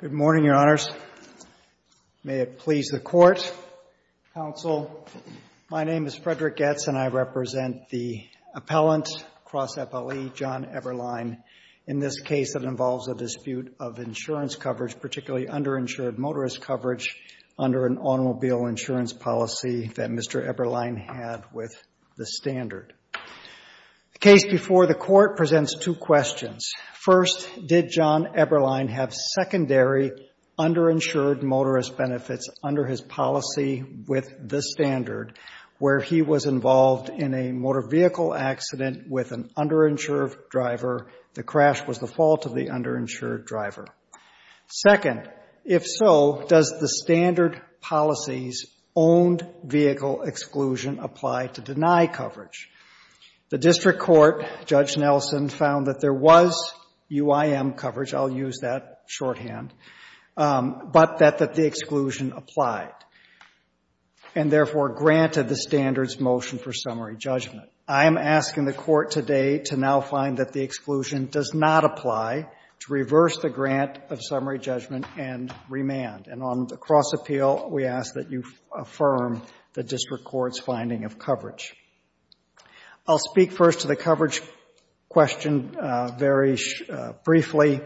Good morning, Your Honors. May it please the Court, Counsel, my name is Frederick Goetz and I represent the appellant, Cross FLE, John Eberlein, in this case that involves a dispute of insurance coverage, particularly underinsured motorist coverage under an automobile insurance policy that Mr. Eberlein had with the Standard. The case before the Court presents two questions. First, did John Eberlein have secondary underinsured motorist benefits under his policy with the Standard where he was involved in a motor vehicle accident with an underinsured driver, the crash was the fault of the underinsured driver? Second, if so, does the Standard policy's owned vehicle exclusion apply to deny coverage? The District Court, Judge Nelson, found that there was UIM coverage, I'll use that shorthand, but that the exclusion applied and therefore granted the Standard's motion for summary judgment. I am asking the Court today to now find that the exclusion does not apply to reverse the grant of summary judgment and remand. And on the cross appeal, we ask that you affirm the District Court's finding of coverage. I'll speak first to the coverage question very briefly.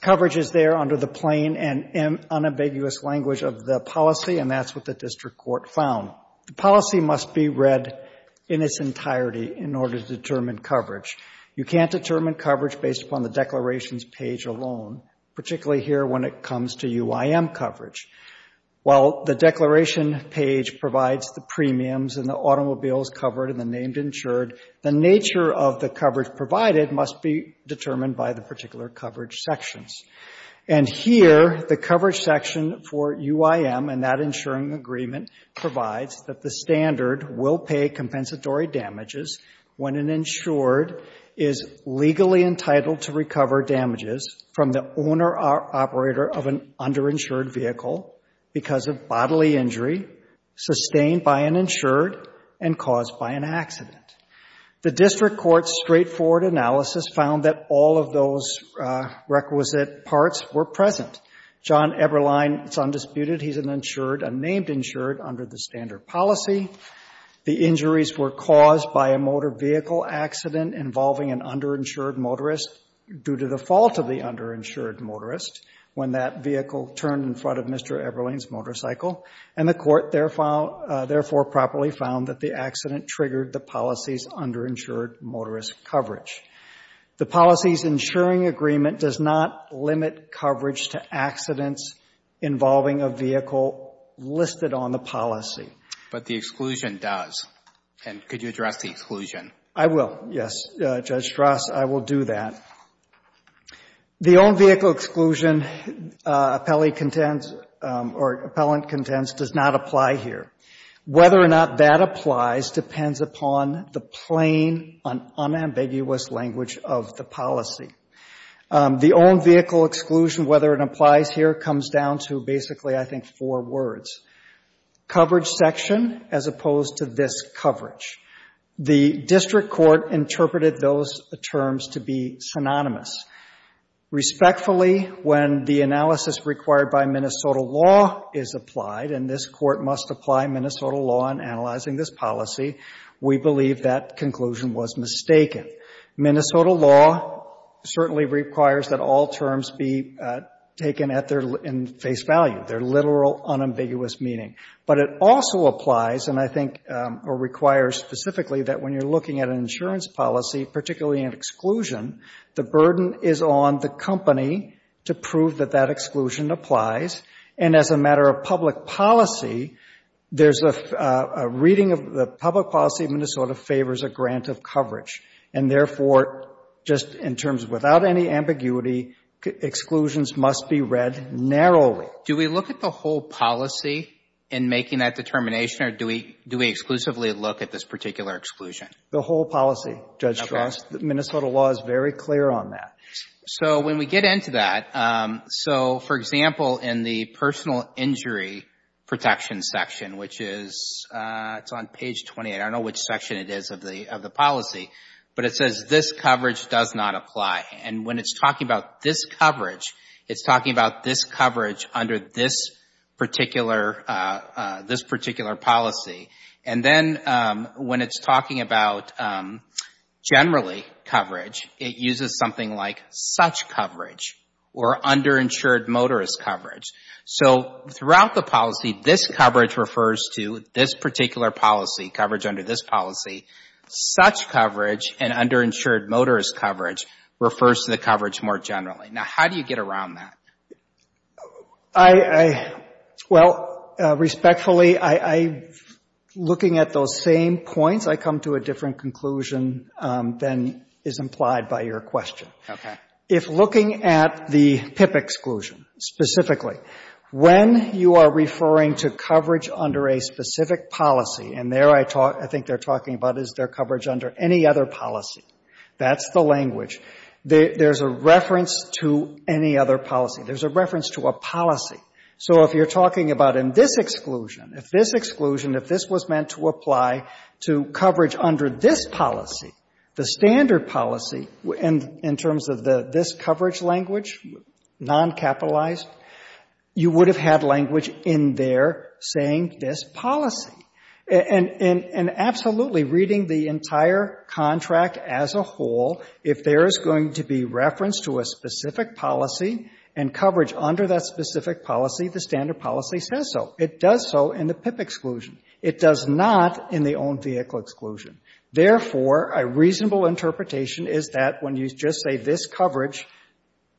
Coverage is there under the plain and unambiguous language of the policy, and that's what the District Court found. The policy must be read in its entirety in order to determine coverage. You can't determine coverage based upon the declarations page alone, particularly here when it comes to While the declaration page provides the premiums and the automobiles covered and the named insured, the nature of the coverage provided must be determined by the particular coverage sections. And here, the coverage section for UIM and that insuring agreement provides that the Standard will pay compensatory damages when an insured is legally entitled to recover damages from the owner or operator of an underinsured vehicle because of bodily injury sustained by an insured and caused by an accident. The District Court's straightforward analysis found that all of those requisite parts were present. John Eberlein is undisputed. He's an insured, a named insured under the Standard policy. The injuries were caused by a motor vehicle accident involving an underinsured motorist due to the fault of the underinsured motorist when that vehicle turned in front of Mr. Eberlein's motorcycle. And the Court therefore properly found that the accident triggered the policy's underinsured motorist coverage. The policy's insuring agreement does not limit coverage to accidents involving a vehicle listed on the policy. I will, yes. Judge Strass, I will do that. The own vehicle exclusion appellee contends or appellant contends does not apply here. Whether or not that applies depends upon the plain and unambiguous language of the policy. The own vehicle exclusion, whether it applies here, comes down to basically, I think, four words. Coverage section as opposed to this District Court interpreted those terms to be synonymous. Respectfully, when the analysis required by Minnesota law is applied, and this Court must apply Minnesota law in analyzing this policy, we believe that conclusion was mistaken. Minnesota law certainly requires that all terms be taken at their face value, their literal unambiguous meaning. But it also applies, and I think, or requires specifically that when you're looking at an insurance policy, particularly an exclusion, the burden is on the company to prove that that exclusion applies. And as a matter of public policy, there's a reading of the public policy of Minnesota favors a grant of coverage. And therefore, just in terms of without any ambiguity, exclusions must be read narrowly. Do we look at the whole policy in making that determination, or do we exclusively look at this particular exclusion? The whole policy, Judge Strauss. Minnesota law is very clear on that. So when we get into that, so for example, in the personal injury protection section, which is, it's on page 28, I don't know which section it is of the policy, but it says this coverage does not apply. And when it's talking about this coverage, it's talking about this particular policy. And then when it's talking about generally coverage, it uses something like such coverage, or underinsured motorist coverage. So throughout the policy, this coverage refers to this particular policy, coverage under this policy. Such coverage and underinsured motorist coverage refers to the coverage more generally. Now, how do you get around that? Well, respectfully, I, looking at those same points, I come to a different conclusion than is implied by your question. If looking at the PIP exclusion specifically, when you are referring to coverage under a specific policy, and there I think they're talking about is there coverage under any other policy. That's the language. There's a reference to any other policy. There's a reference to a policy. So if you're talking about in this exclusion, if this exclusion, if this was meant to apply to coverage under this policy, the standard policy in terms of this coverage language, non-capitalized, you would have had language in there saying this policy. And absolutely, reading the entire contract as a whole, if there is going to be reference to a specific policy and coverage under that specific policy, the standard policy says so. It does so in the PIP exclusion. It does not in the owned vehicle exclusion. Therefore, a reasonable interpretation is that when you just say this coverage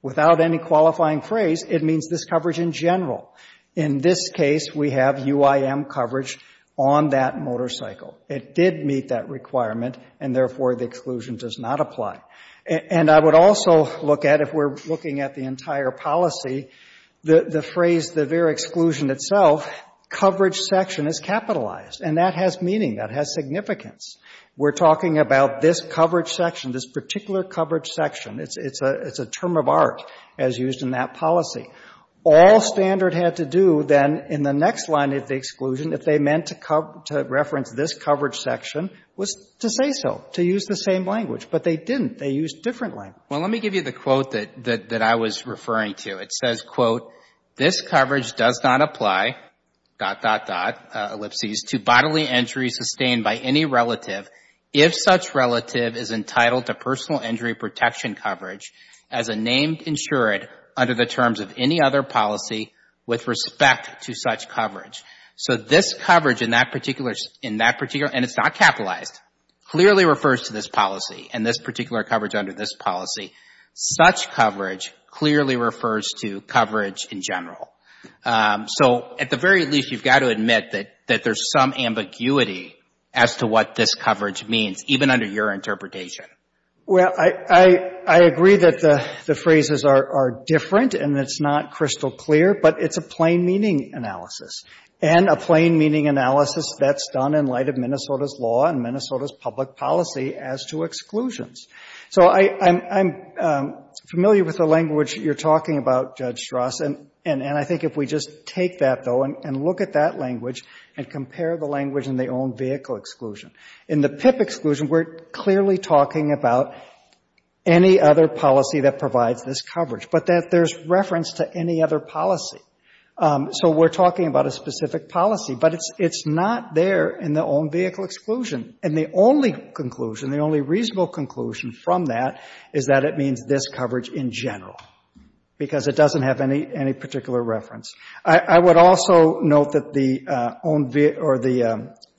without any qualifying phrase, it means this coverage in general. In this case, we have UIM coverage on that motorcycle. It did meet that requirement, and therefore the exclusion does not apply. And I would also look at, if we're looking at the entire policy, the phrase, the very exclusion itself, coverage section is capitalized. And that has meaning. That has significance. We're talking about this coverage section, this particular coverage section. It's a term of art as used in that policy. All standard had to do then in the next line of the exclusion if they meant to reference this coverage section was to say so, to use the same language. But they didn't. They used different language. Well, let me give you the quote that I was referring to. It says, quote, this coverage does not apply, dot, dot, dot, ellipses, to bodily injuries sustained by any relative if such relative is entitled to personal injury protection coverage as a named insured under the terms of any other policy with respect to such coverage. So this coverage in that particular, and it's not capitalized, clearly refers to this policy and this particular coverage under this policy. Such coverage clearly refers to coverage in general. So at the very least, you've got to admit that there's some ambiguity as to what this coverage means, even under your interpretation. Well, I agree that the phrases are different and it's not crystal clear, but it's a plain meaning analysis that's done in light of Minnesota's law and Minnesota's public policy as to exclusions. So I'm familiar with the language you're talking about, Judge Strass, and I think if we just take that, though, and look at that language and compare the language in the own vehicle exclusion. In the PIP exclusion, we're clearly talking about any other policy that provides this coverage, but that there's reference to any other policy. So we're talking about a specific policy, but it's not there in the own vehicle exclusion. And the only conclusion, the only reasonable conclusion from that is that it means this coverage in general, because it doesn't have any particular reference. I would also note that the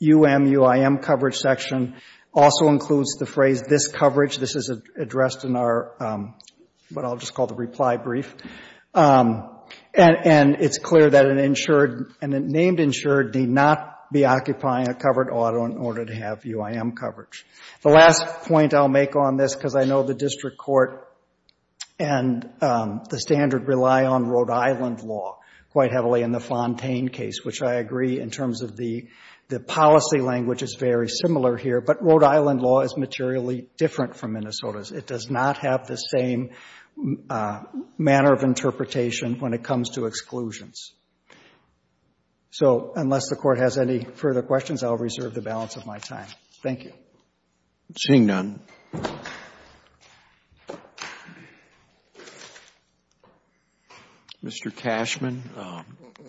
UMUIM coverage section also includes the phrase this coverage. This is addressed in our, what I'll just call the reply brief. And it's clear that an insured, an named insured need not be occupying a covered auto in order to have UIM coverage. The last point I'll make on this, because I know the district court and the standard rely on Rhode Island law quite heavily in the Fontaine case, which I agree in terms of the policy language is very similar here, but Rhode Island law is materially different from Minnesota's. It does not have the same manner of interpretation when it comes to exclusions. So unless the court has any further questions, I'll reserve the balance of my time. Thank you. Seeing none, Mr. Cashman,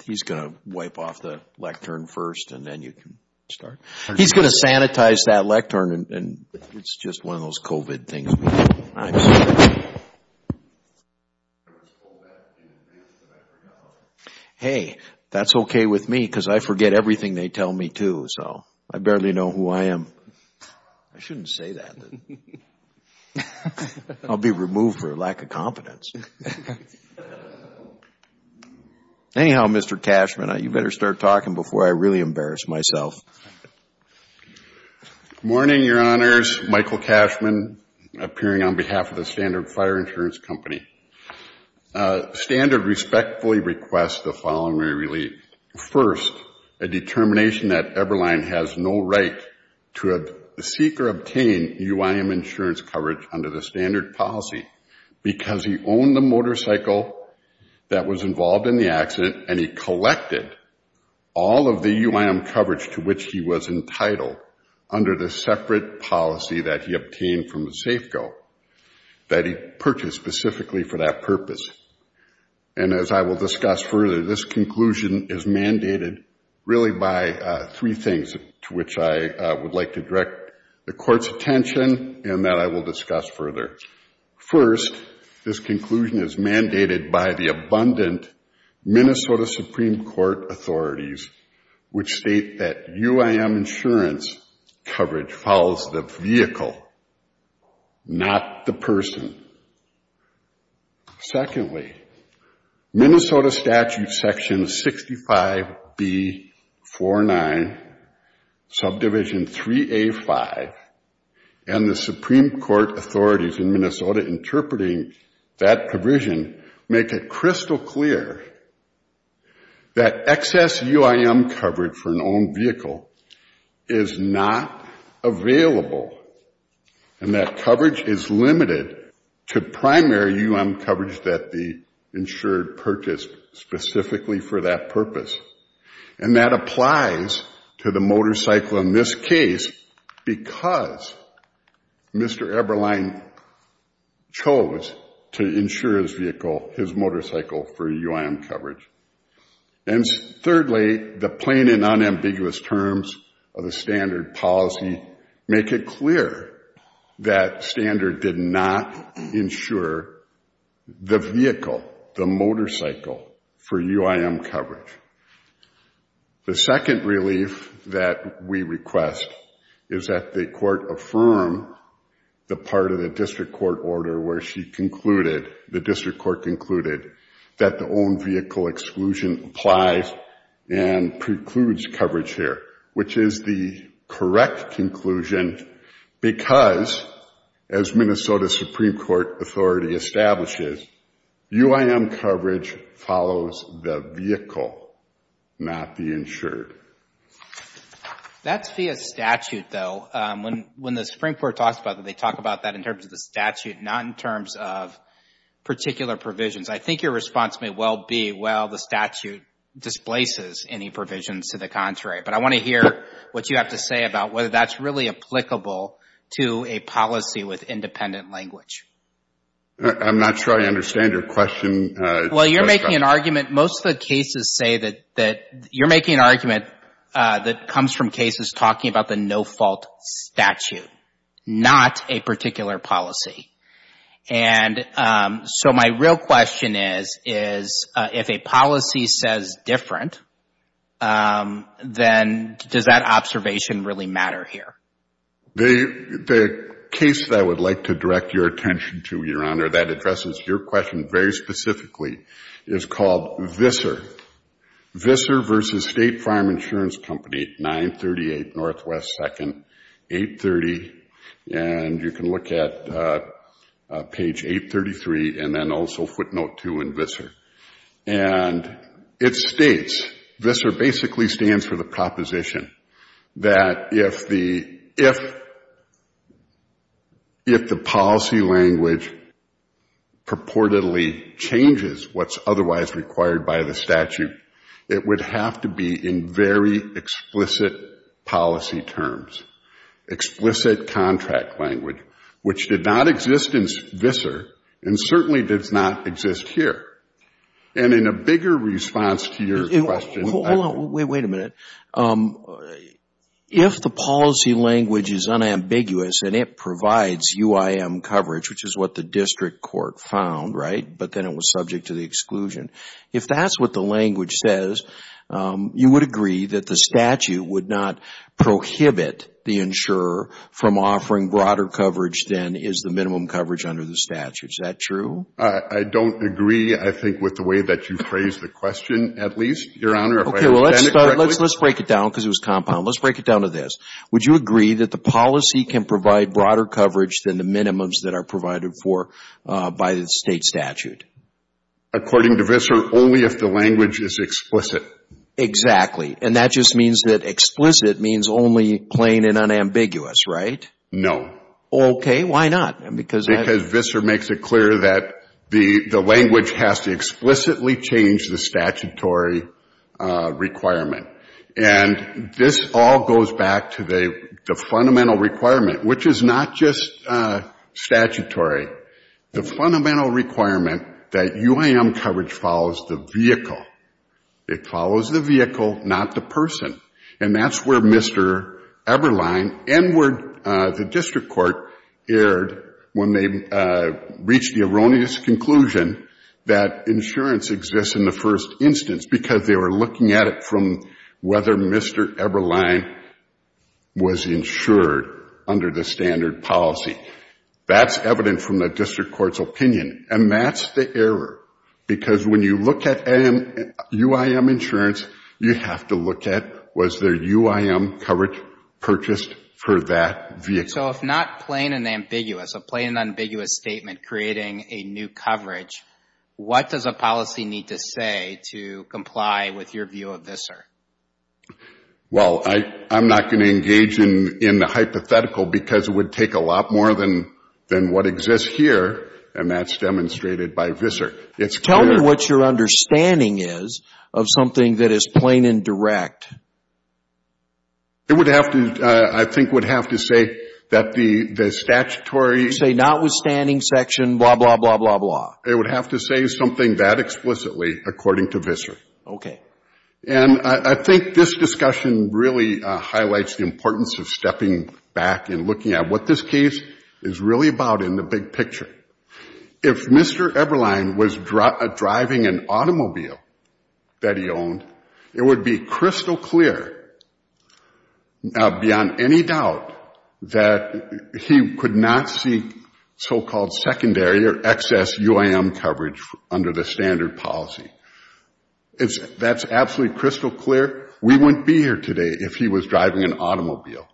he's going to wipe off the lectern first and then you can start. He's going to sanitize that lectern and it's just one of those COVID things. Hey, that's okay with me because I forget everything they tell me too. So I barely know who I am. I shouldn't say that. I'll be removed for lack of confidence. Anyhow, Mr. Cashman, you better start talking before I really embarrass myself. Morning, Your Honors. Michael Cashman appearing on behalf of the Standard Fire Insurance Company. Standard respectfully requests the following relief. First, a determination that Eberlein has no right to seek or obtain UIM insurance coverage under the standard policy because he owned the motorcycle that was involved in the accident and he collected all of the UIM coverage to which he was entitled under the separate policy that he obtained from the Safeco that he purchased specifically for that purpose. And as I will discuss further, this conclusion is mandated really by three things to which I would like to direct the attention to. First, this conclusion is mandated by the abundant Minnesota Supreme Court authorities which state that UIM insurance coverage follows the vehicle, not the person. Secondly, Minnesota statute section 65B49 subdivision 3A5 and the Supreme Court authorities in Minnesota interpreting that provision make it crystal clear that excess UIM coverage for an owned vehicle is not available and that coverage is limited to primary UIM coverage that the insured purchased specifically for that purpose. And that applies to the motorcycle in this case because Mr. Eberlein chose to insure his vehicle, his motorcycle for UIM coverage. And thirdly, the plain and unambiguous terms of the standard policy make it clear that standard did not insure the vehicle, the motorcycle for UIM coverage. The second relief that we request is that the court affirm the part of the district court order where she concluded, the district court concluded, that the owned vehicle exclusion applies and precludes coverage here, which is the correct conclusion because as Minnesota Supreme Court authority establishes, UIM coverage follows the vehicle, not the insured. That's via statute though. When the Supreme Court talks about that, they talk about that in terms of the statute, not in terms of particular provisions. I think your response may well be, well, the statute displaces any provisions to the contrary. But I want to hear what you have to say about whether that's really applicable to a policy with independent language. I'm not sure I understand your question. Well, you're making an argument. Most of the cases say that you're making an argument that comes from cases talking about the no-fault statute, not a particular policy. And so my real question is, is if a policy says different, then does that observation really matter here? The case that I would like to direct your attention to, Your Honor, that addresses your question very specifically, is called VISSER. VISSER v. State Farm Insurance Company, 938 Northwest 2nd, 830. And you can look at page 833 and then also footnote 2 in VISSER. And it states, VISSER basically stands for the proposition that if the policy language purports to be in very explicit policy terms, explicit contract language, which did not exist in VISSER, and certainly does not exist here. And in a bigger response to your question I would say, wait a minute. If the policy language is unambiguous and it provides UIM coverage, which is what the district court found, right, but then it was subject to the exclusion. If that's what the language says, you would agree that the statute would not prohibit the insurer from offering broader coverage than is the minimum coverage under the statute. Is that true? I don't agree, I think, with the way that you phrased the question, at least, Your Honor. Okay, well, let's break it down because it was compound. Let's break it down to this. Would you agree that the policy can provide broader coverage than the minimums that are provided for by the state statute? According to VISSER, only if the language is explicit. Exactly. And that just means that explicit means only plain and unambiguous, right? No. Okay, why not? Because VISSER makes it clear that the language has to explicitly change the statutory requirement. And this all goes back to the fundamental requirement, which is not just statutory. The fundamental requirement that UIM coverage follows the vehicle. It follows the vehicle, not the person. And that's where Mr. Eberlein and where the district court erred when they reached the erroneous conclusion that insurance exists in the first instance because they were looking at it from whether Mr. Eberlein was insured under the standard policy. That's evident from the district court's opinion. And that's the error because when you look at UIM insurance, you have to look at was there UIM coverage purchased for that vehicle. So if not plain and ambiguous, a plain and ambiguous statement creating a new coverage, what does a policy need to say to comply with your view of VISSER? Well, I'm not going to engage in the hypothetical because it would take a lot more than what exists here, and that's demonstrated by VISSER. It's clear. Tell me what your understanding is of something that is plain and direct. It would have to, I think would have to say that the statutory. Say notwithstanding section blah, blah, blah, blah, blah. It would have to say something that explicitly according to VISSER. Okay. And I think this discussion really highlights the importance of stepping back and looking at what this case is really about in the big picture. If Mr. Eberlein was driving an automobile that he owned, it would be crystal clear beyond any doubt that he could not seek so-called secondary or excess UIM coverage under the standard policy. That's absolutely crystal clear. We wouldn't be here today if he was driving an automobile.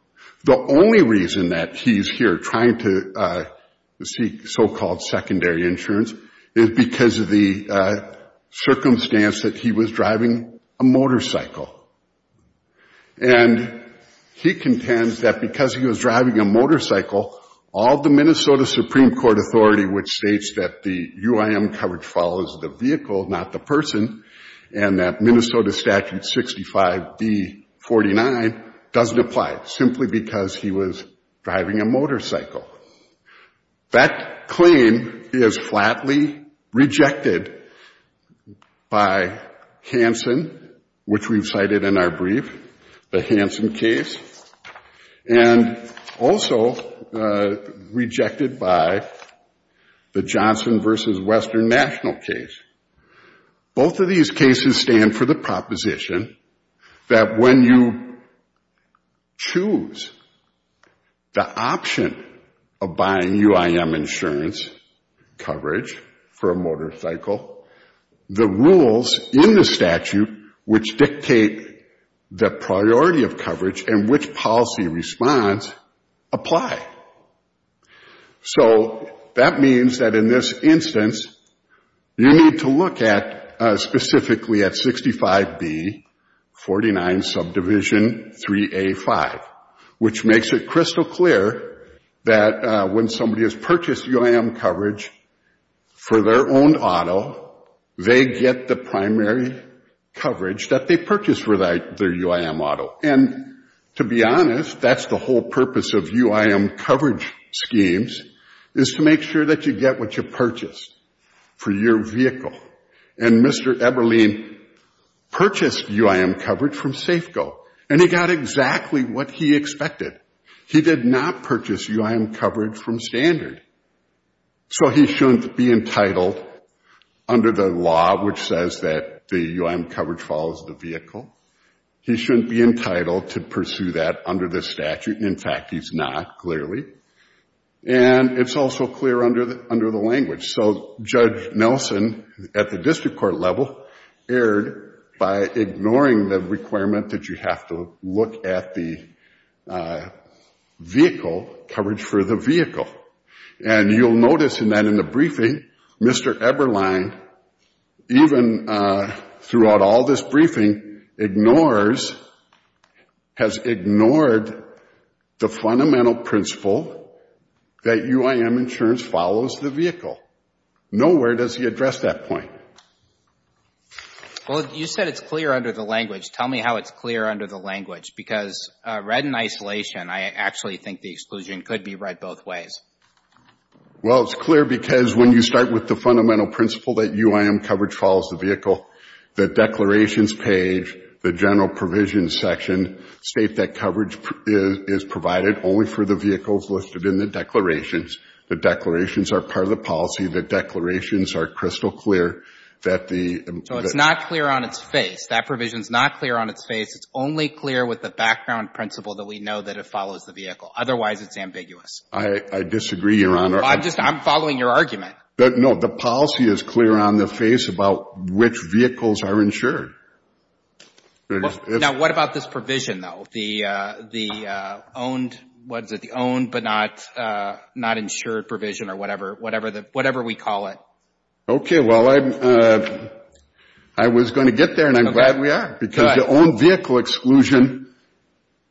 The only reason that he's here trying to seek so-called secondary insurance is because of the circumstance that he was driving a motorcycle. And he contends that because he was driving a motorcycle, all the Minnesota Supreme Court authority which states that the UIM coverage follows the vehicle, not the person, and that Minnesota Statute 65B-49 doesn't apply, simply because he was driving a motorcycle. That claim is flatly rejected by Hansen, which we've cited in our brief, the Hansen case. And also rejected by the Johnson v. Western National case. Both of these cases stand for the proposition that when you choose the option of buying UIM insurance coverage for a motorcycle, the rules in the statute which dictate the priority of coverage and which policy response apply. So that means that in this instance, you need to look at, specifically at 65B-49 subdivision 3A-5, which makes it crystal clear that when somebody has purchased UIM coverage for their own auto, they get the primary coverage that they purchased for their UIM auto. And to be honest, that's the whole purpose of UIM coverage schemes, is to make sure that you get what you purchase for your vehicle. And Mr. Eberlein purchased UIM coverage from Safeco. And he got exactly what he expected. He did not purchase UIM coverage from Standard. So he shouldn't be entitled under the law which says that the UIM coverage follows the vehicle. He shouldn't be entitled to pursue that under the statute. In fact, he's not, clearly. And it's also clear under the language. So Judge Nelson, at the district court level, erred by ignoring the requirement that you have to look at the vehicle, coverage for the vehicle. And you'll notice that in the briefing, Mr. Eberlein, even throughout all this briefing, ignores, has ignored the fundamental principle that UIM insurance follows the vehicle. Nowhere does he address that point. Well, you said it's clear under the language. Tell me how it's clear under the language. Because read in isolation, I actually think the exclusion could be read both ways. Well, it's clear because when you start with the fundamental principle that UIM coverage follows the vehicle, the declarations page, the general provisions section, state that coverage is provided only for the vehicles listed in the declarations. The declarations are part of the policy. The declarations are crystal clear that the — So it's not clear on its face. That provision's not clear on its face. It's only clear with the background principle that we know that it follows the vehicle. Otherwise, it's ambiguous. I disagree, Your Honor. I'm just — I'm following your argument. No. The policy is clear on the face about which vehicles are insured. Now, what about this provision, though? The owned — what is it? The owned but not insured provision or whatever, whatever we call it. Okay. Well, I'm — I was going to get there, and I'm glad we are because the owned vehicle exclusion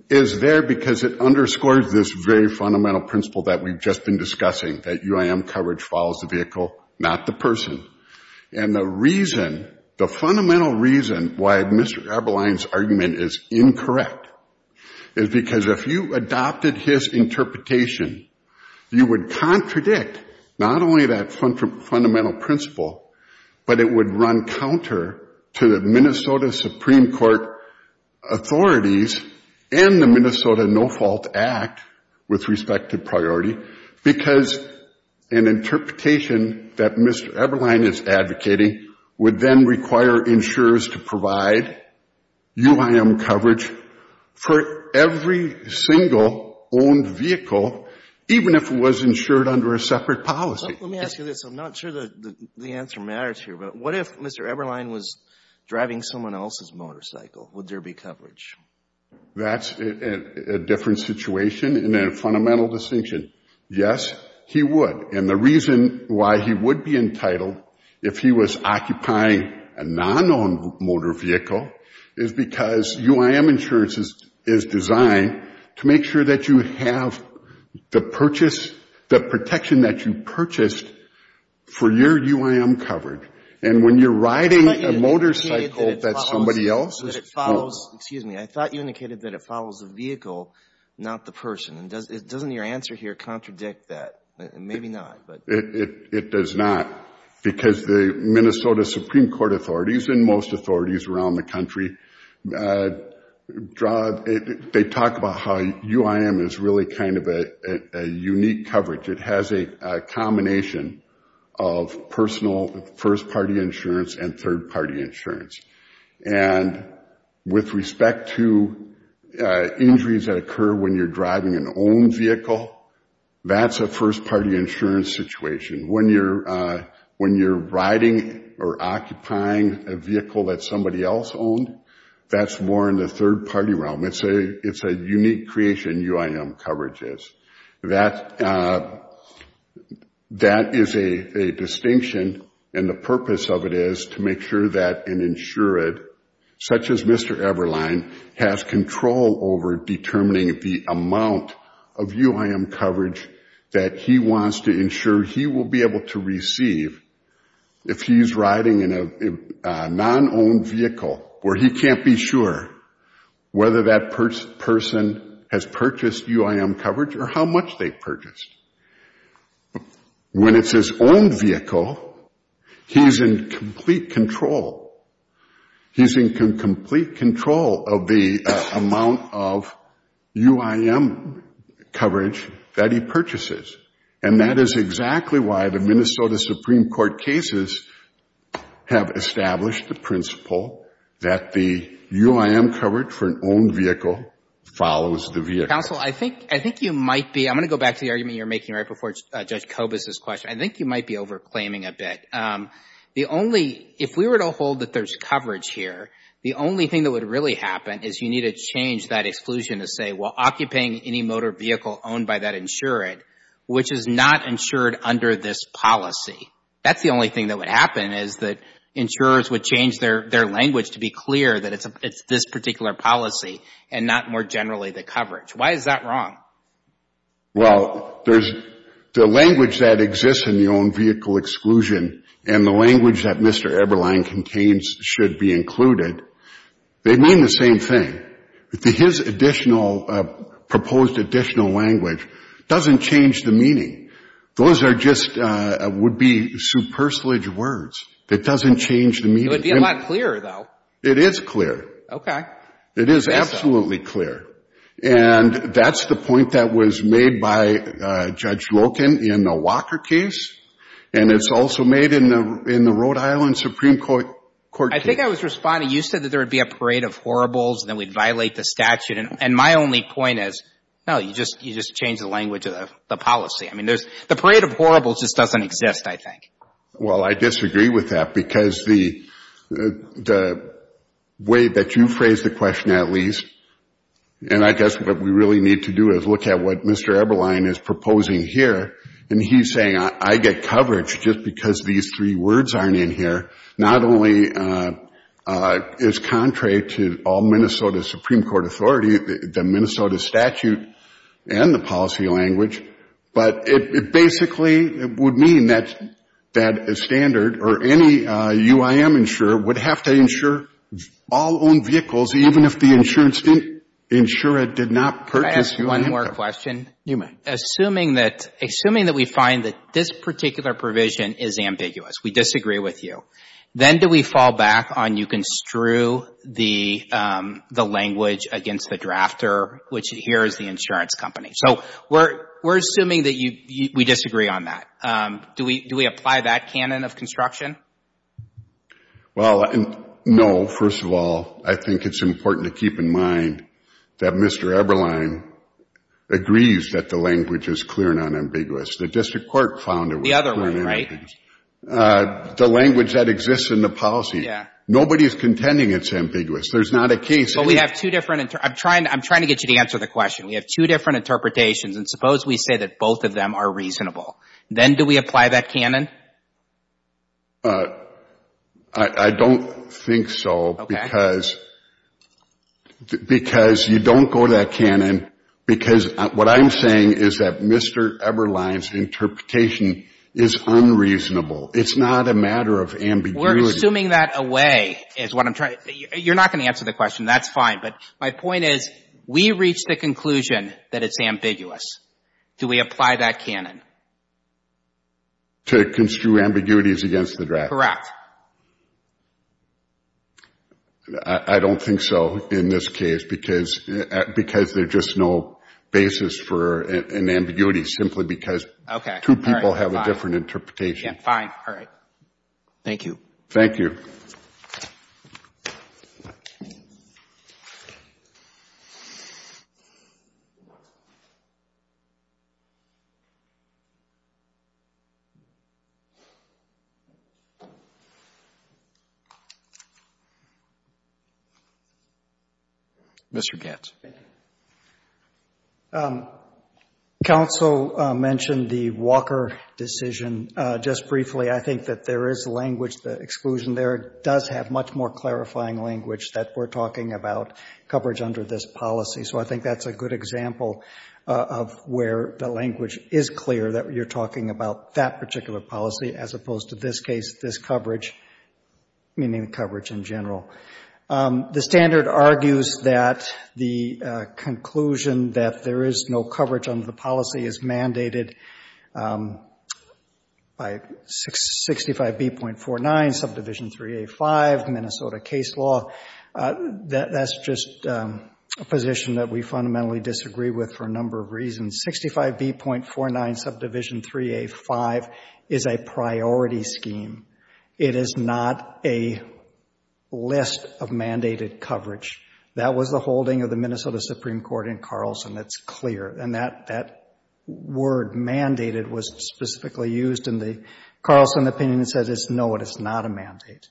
is there because it underscores this very fundamental principle that we've just been discussing, that UIM coverage follows the vehicle, not the person. And the reason — the fundamental reason why Mr. Garbeline's argument is incorrect is because if you adopted his interpretation, you would contradict not only that fundamental principle, but it would run counter to the Minnesota Supreme Court authorities and the Minnesota No-Fault Act with respect to priority because an interpretation that Mr. Garbeline is advocating would then require insurers to provide UIM coverage for every single or every single vehicle that is an owned vehicle, even if it was insured under a separate policy. Let me ask you this. I'm not sure the answer matters here, but what if Mr. Eberlein was driving someone else's motorcycle? Would there be coverage? That's a different situation and a fundamental distinction. Yes, he would. And the reason why he would be entitled if he was occupying a non-owned motor vehicle is because UIM insurance is designed to make sure that you have the purchase — the protection that you purchased for your UIM coverage. And when you're riding a motorcycle that somebody else is — I thought you indicated that it follows the vehicle, not the person. Doesn't your answer here contradict that? Maybe not, but — It does not because the Minnesota Supreme Court authorities and most authorities around the country, they talk about how UIM is really kind of a unique coverage. It has a combination of personal first-party insurance and third-party insurance. And with respect to injuries that occur when you're driving an owned vehicle, that's a first-party insurance situation. When you're riding or occupying a vehicle that somebody else owned, that's more in the third-party realm. It's a unique creation, UIM coverage is. That is a distinction, and the purpose of it is to make sure that an insured, such as Mr. Eberlein, has control over determining the amount of UIM coverage that he wants to ensure he will be able to receive if he's riding in a non-owned vehicle where he can't be sure whether that person has purchased UIM coverage or how much they've purchased. When it's his own vehicle, he's in complete control. He's in complete control of the amount of UIM coverage that he purchases. And that is exactly why the Minnesota Supreme Court cases have established the principle that the UIM coverage for an owned vehicle follows the vehicle. Counsel, I think you might be, I'm going to go back to the argument you're making right before Judge Kobus' question. I think you might be over-claiming a bit. The only, if we were to hold that there's coverage here, the only thing that would really happen is you need to change that exclusion to say, well, occupying any motor vehicle owned by that insured, which is not insured under this policy, that's the only thing that would happen is that insurers would change their language to be clear that it's this particular policy and not more generally the coverage. Why is that wrong? Well, the language that exists in the owned vehicle exclusion and the language that Mr. Kobus' proposed additional language doesn't change the meaning. Those are just, would be superfluous words. It doesn't change the meaning. It would be a lot clearer, though. It is clear. Okay. It is absolutely clear. And that's the point that was made by Judge Loken in the Walker case and it's also made in the Rhode Island Supreme Court case. I think I was responding, you said that there would be a parade of horribles and that we'd violate the statute. And my only point is, no, you just change the language of the policy. I mean, the parade of horribles just doesn't exist, I think. Well, I disagree with that because the way that you phrased the question, at least, and I guess what we really need to do is look at what Mr. Eberlein is proposing here. And he's saying I get coverage just because these three words aren't in here. Not only is contrary to all Minnesota Supreme Court authority, the Minnesota statute and the policy language, but it basically would mean that a standard or any UIM insurer would have to insure all owned vehicles even if the insurer did not purchase UIM. Can I ask one more question? You may. Assuming that we find that this particular provision is ambiguous, we disagree with you, then do we fall back on you can strew the language against the drafter, which here is the insurance company. So we're assuming that we disagree on that. Do we apply that canon of construction? Well, no, first of all, I think it's important to keep in mind that Mr. Eberlein agrees that the language is clear and unambiguous. The district court found it was clear and ambiguous. The other one, right? The language that exists in the policy. Nobody is contending it's ambiguous. There's not a case. But we have two different, I'm trying to get you to answer the question. We have two different interpretations and suppose we say that both of them are reasonable. Then do we apply that canon? I don't think so because you don't go to that canon because what I'm saying is that the Mr. Eberlein's interpretation is unreasonable. It's not a matter of ambiguity. We're assuming that away is what I'm trying to, you're not going to answer the question. That's fine. But my point is we reach the conclusion that it's ambiguous. Do we apply that canon? Correct. I don't think so in this case because there's just no basis for an ambiguity, simply because two people have a different interpretation. Fine. All right. Thank you. Thank you. Mr. Gantz. Counsel mentioned the Walker decision. Just briefly, I think that there is language, the exclusion there does have much more clarifying language that we're talking about coverage under this policy. So I think that's a good example of where the language is clear that you're talking about that particular policy as opposed to this case, this coverage, meaning coverage in general. The standard argues that the conclusion that there is no coverage under the policy is mandated by 65B.49, subdivision 385, Minnesota case law. That's just a position that we fundamentally disagree with for a number of reasons. 65B.49, subdivision 385 is a priority scheme. It is not a list of mandated coverage. That was the holding of the Minnesota Supreme Court in Carlson. It's clear. And that word mandated was specifically used in the Carlson opinion that says no, it is not a mandate.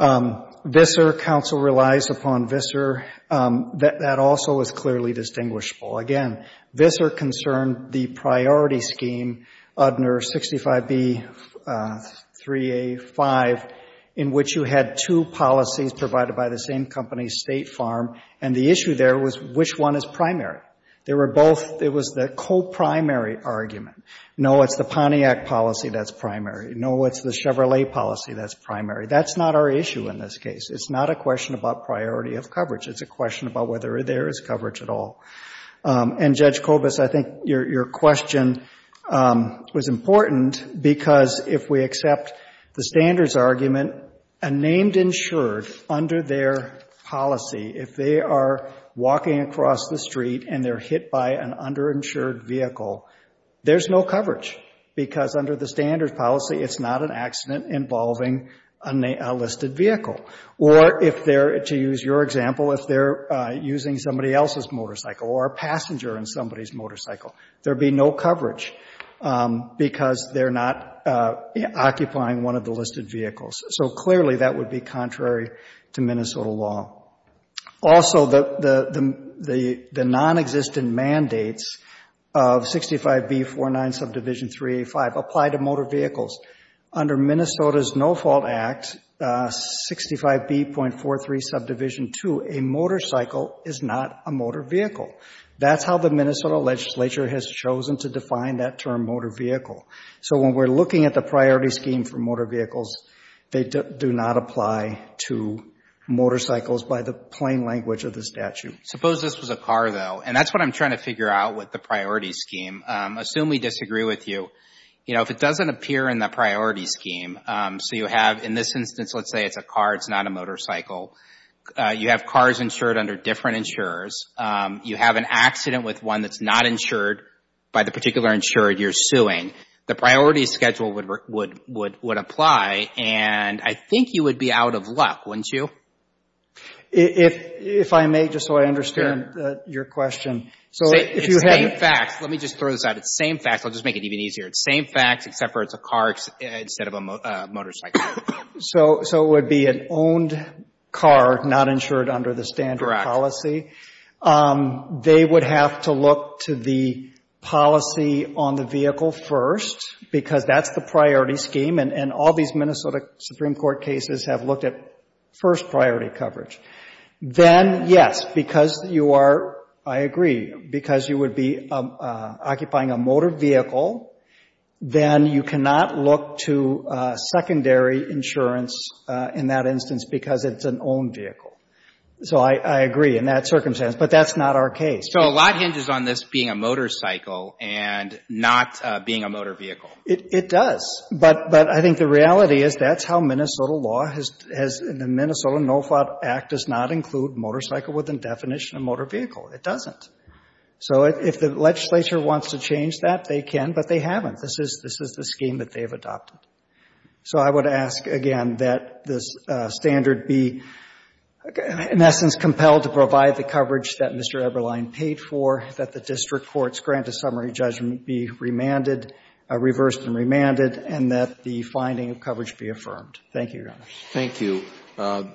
VISR, counsel relies upon VISR. That also is clearly distinguishable. Again, VISR concerned the priority scheme, UDNR 65B.3A.5, in which you had two policies provided by the same company, State Farm, and the issue there was which one is primary. They were both, it was the co-primary argument. No, it's the Pontiac policy that's primary. No, it's the Chevrolet policy that's primary. That's not our issue in this case. It's not a question about priority of coverage. It's a question about whether there is coverage at all. And, Judge Kobus, I think your question was important because if we accept the standards argument, a named insured under their policy, if they are walking across the street and they're hit by an underinsured vehicle, there's no coverage because under the standards policy, it's not an accident involving a listed vehicle. Or if they're, to use your example, if they're using somebody else's motorcycle or a passenger in somebody's motorcycle, there would be no coverage because they're not occupying one of the listed vehicles. So clearly that would be contrary to Minnesota law. Also, the non-existent mandates of 65B.49 Subdivision 385 apply to motor vehicles. Under Minnesota's No Fault Act, 65B.43 Subdivision 2, a motorcycle is not a motor vehicle. That's how the Minnesota legislature has chosen to define that term motor vehicle. So when we're looking at the priority scheme for motor vehicles, they do not apply to motorcycles by the plain language of the statute. Suppose this was a car, though, and that's what I'm trying to figure out with the priority scheme. Assume we disagree with you. You know, if it doesn't appear in the priority scheme, so you have in this instance, let's say it's a car, it's not a motorcycle. You have cars insured under different insurers. You have an accident with one that's not insured by the particular insurer you're suing. The priority schedule would apply. And I think you would be out of luck, wouldn't you? If I may, just so I understand your question. It's the same facts. Let me just throw this out. It's the same facts. I'll just make it even easier. It's the same facts, except for it's a car instead of a motorcycle. So it would be an owned car not insured under the standard policy. Correct. They would have to look to the policy on the vehicle first, because that's the priority scheme. And all these Minnesota Supreme Court cases have looked at first priority coverage. Then, yes, because you are, I agree, because you would be occupying a motor vehicle, then you cannot look to secondary insurance in that circumstance. But that's not our case. So a lot hinges on this being a motorcycle and not being a motor vehicle. It does. But I think the reality is that's how Minnesota law has, the Minnesota NOFA Act does not include motorcycle within definition of motor vehicle. It doesn't. So if the legislature wants to change that, they can, but they haven't. This is the scheme that they've adopted. So I would ask, again, that this coverage that Mr. Eberlein paid for, that the district courts grant a summary judgment be remanded, reversed and remanded, and that the finding of coverage be affirmed. Thank you, Your Honor. Thank you.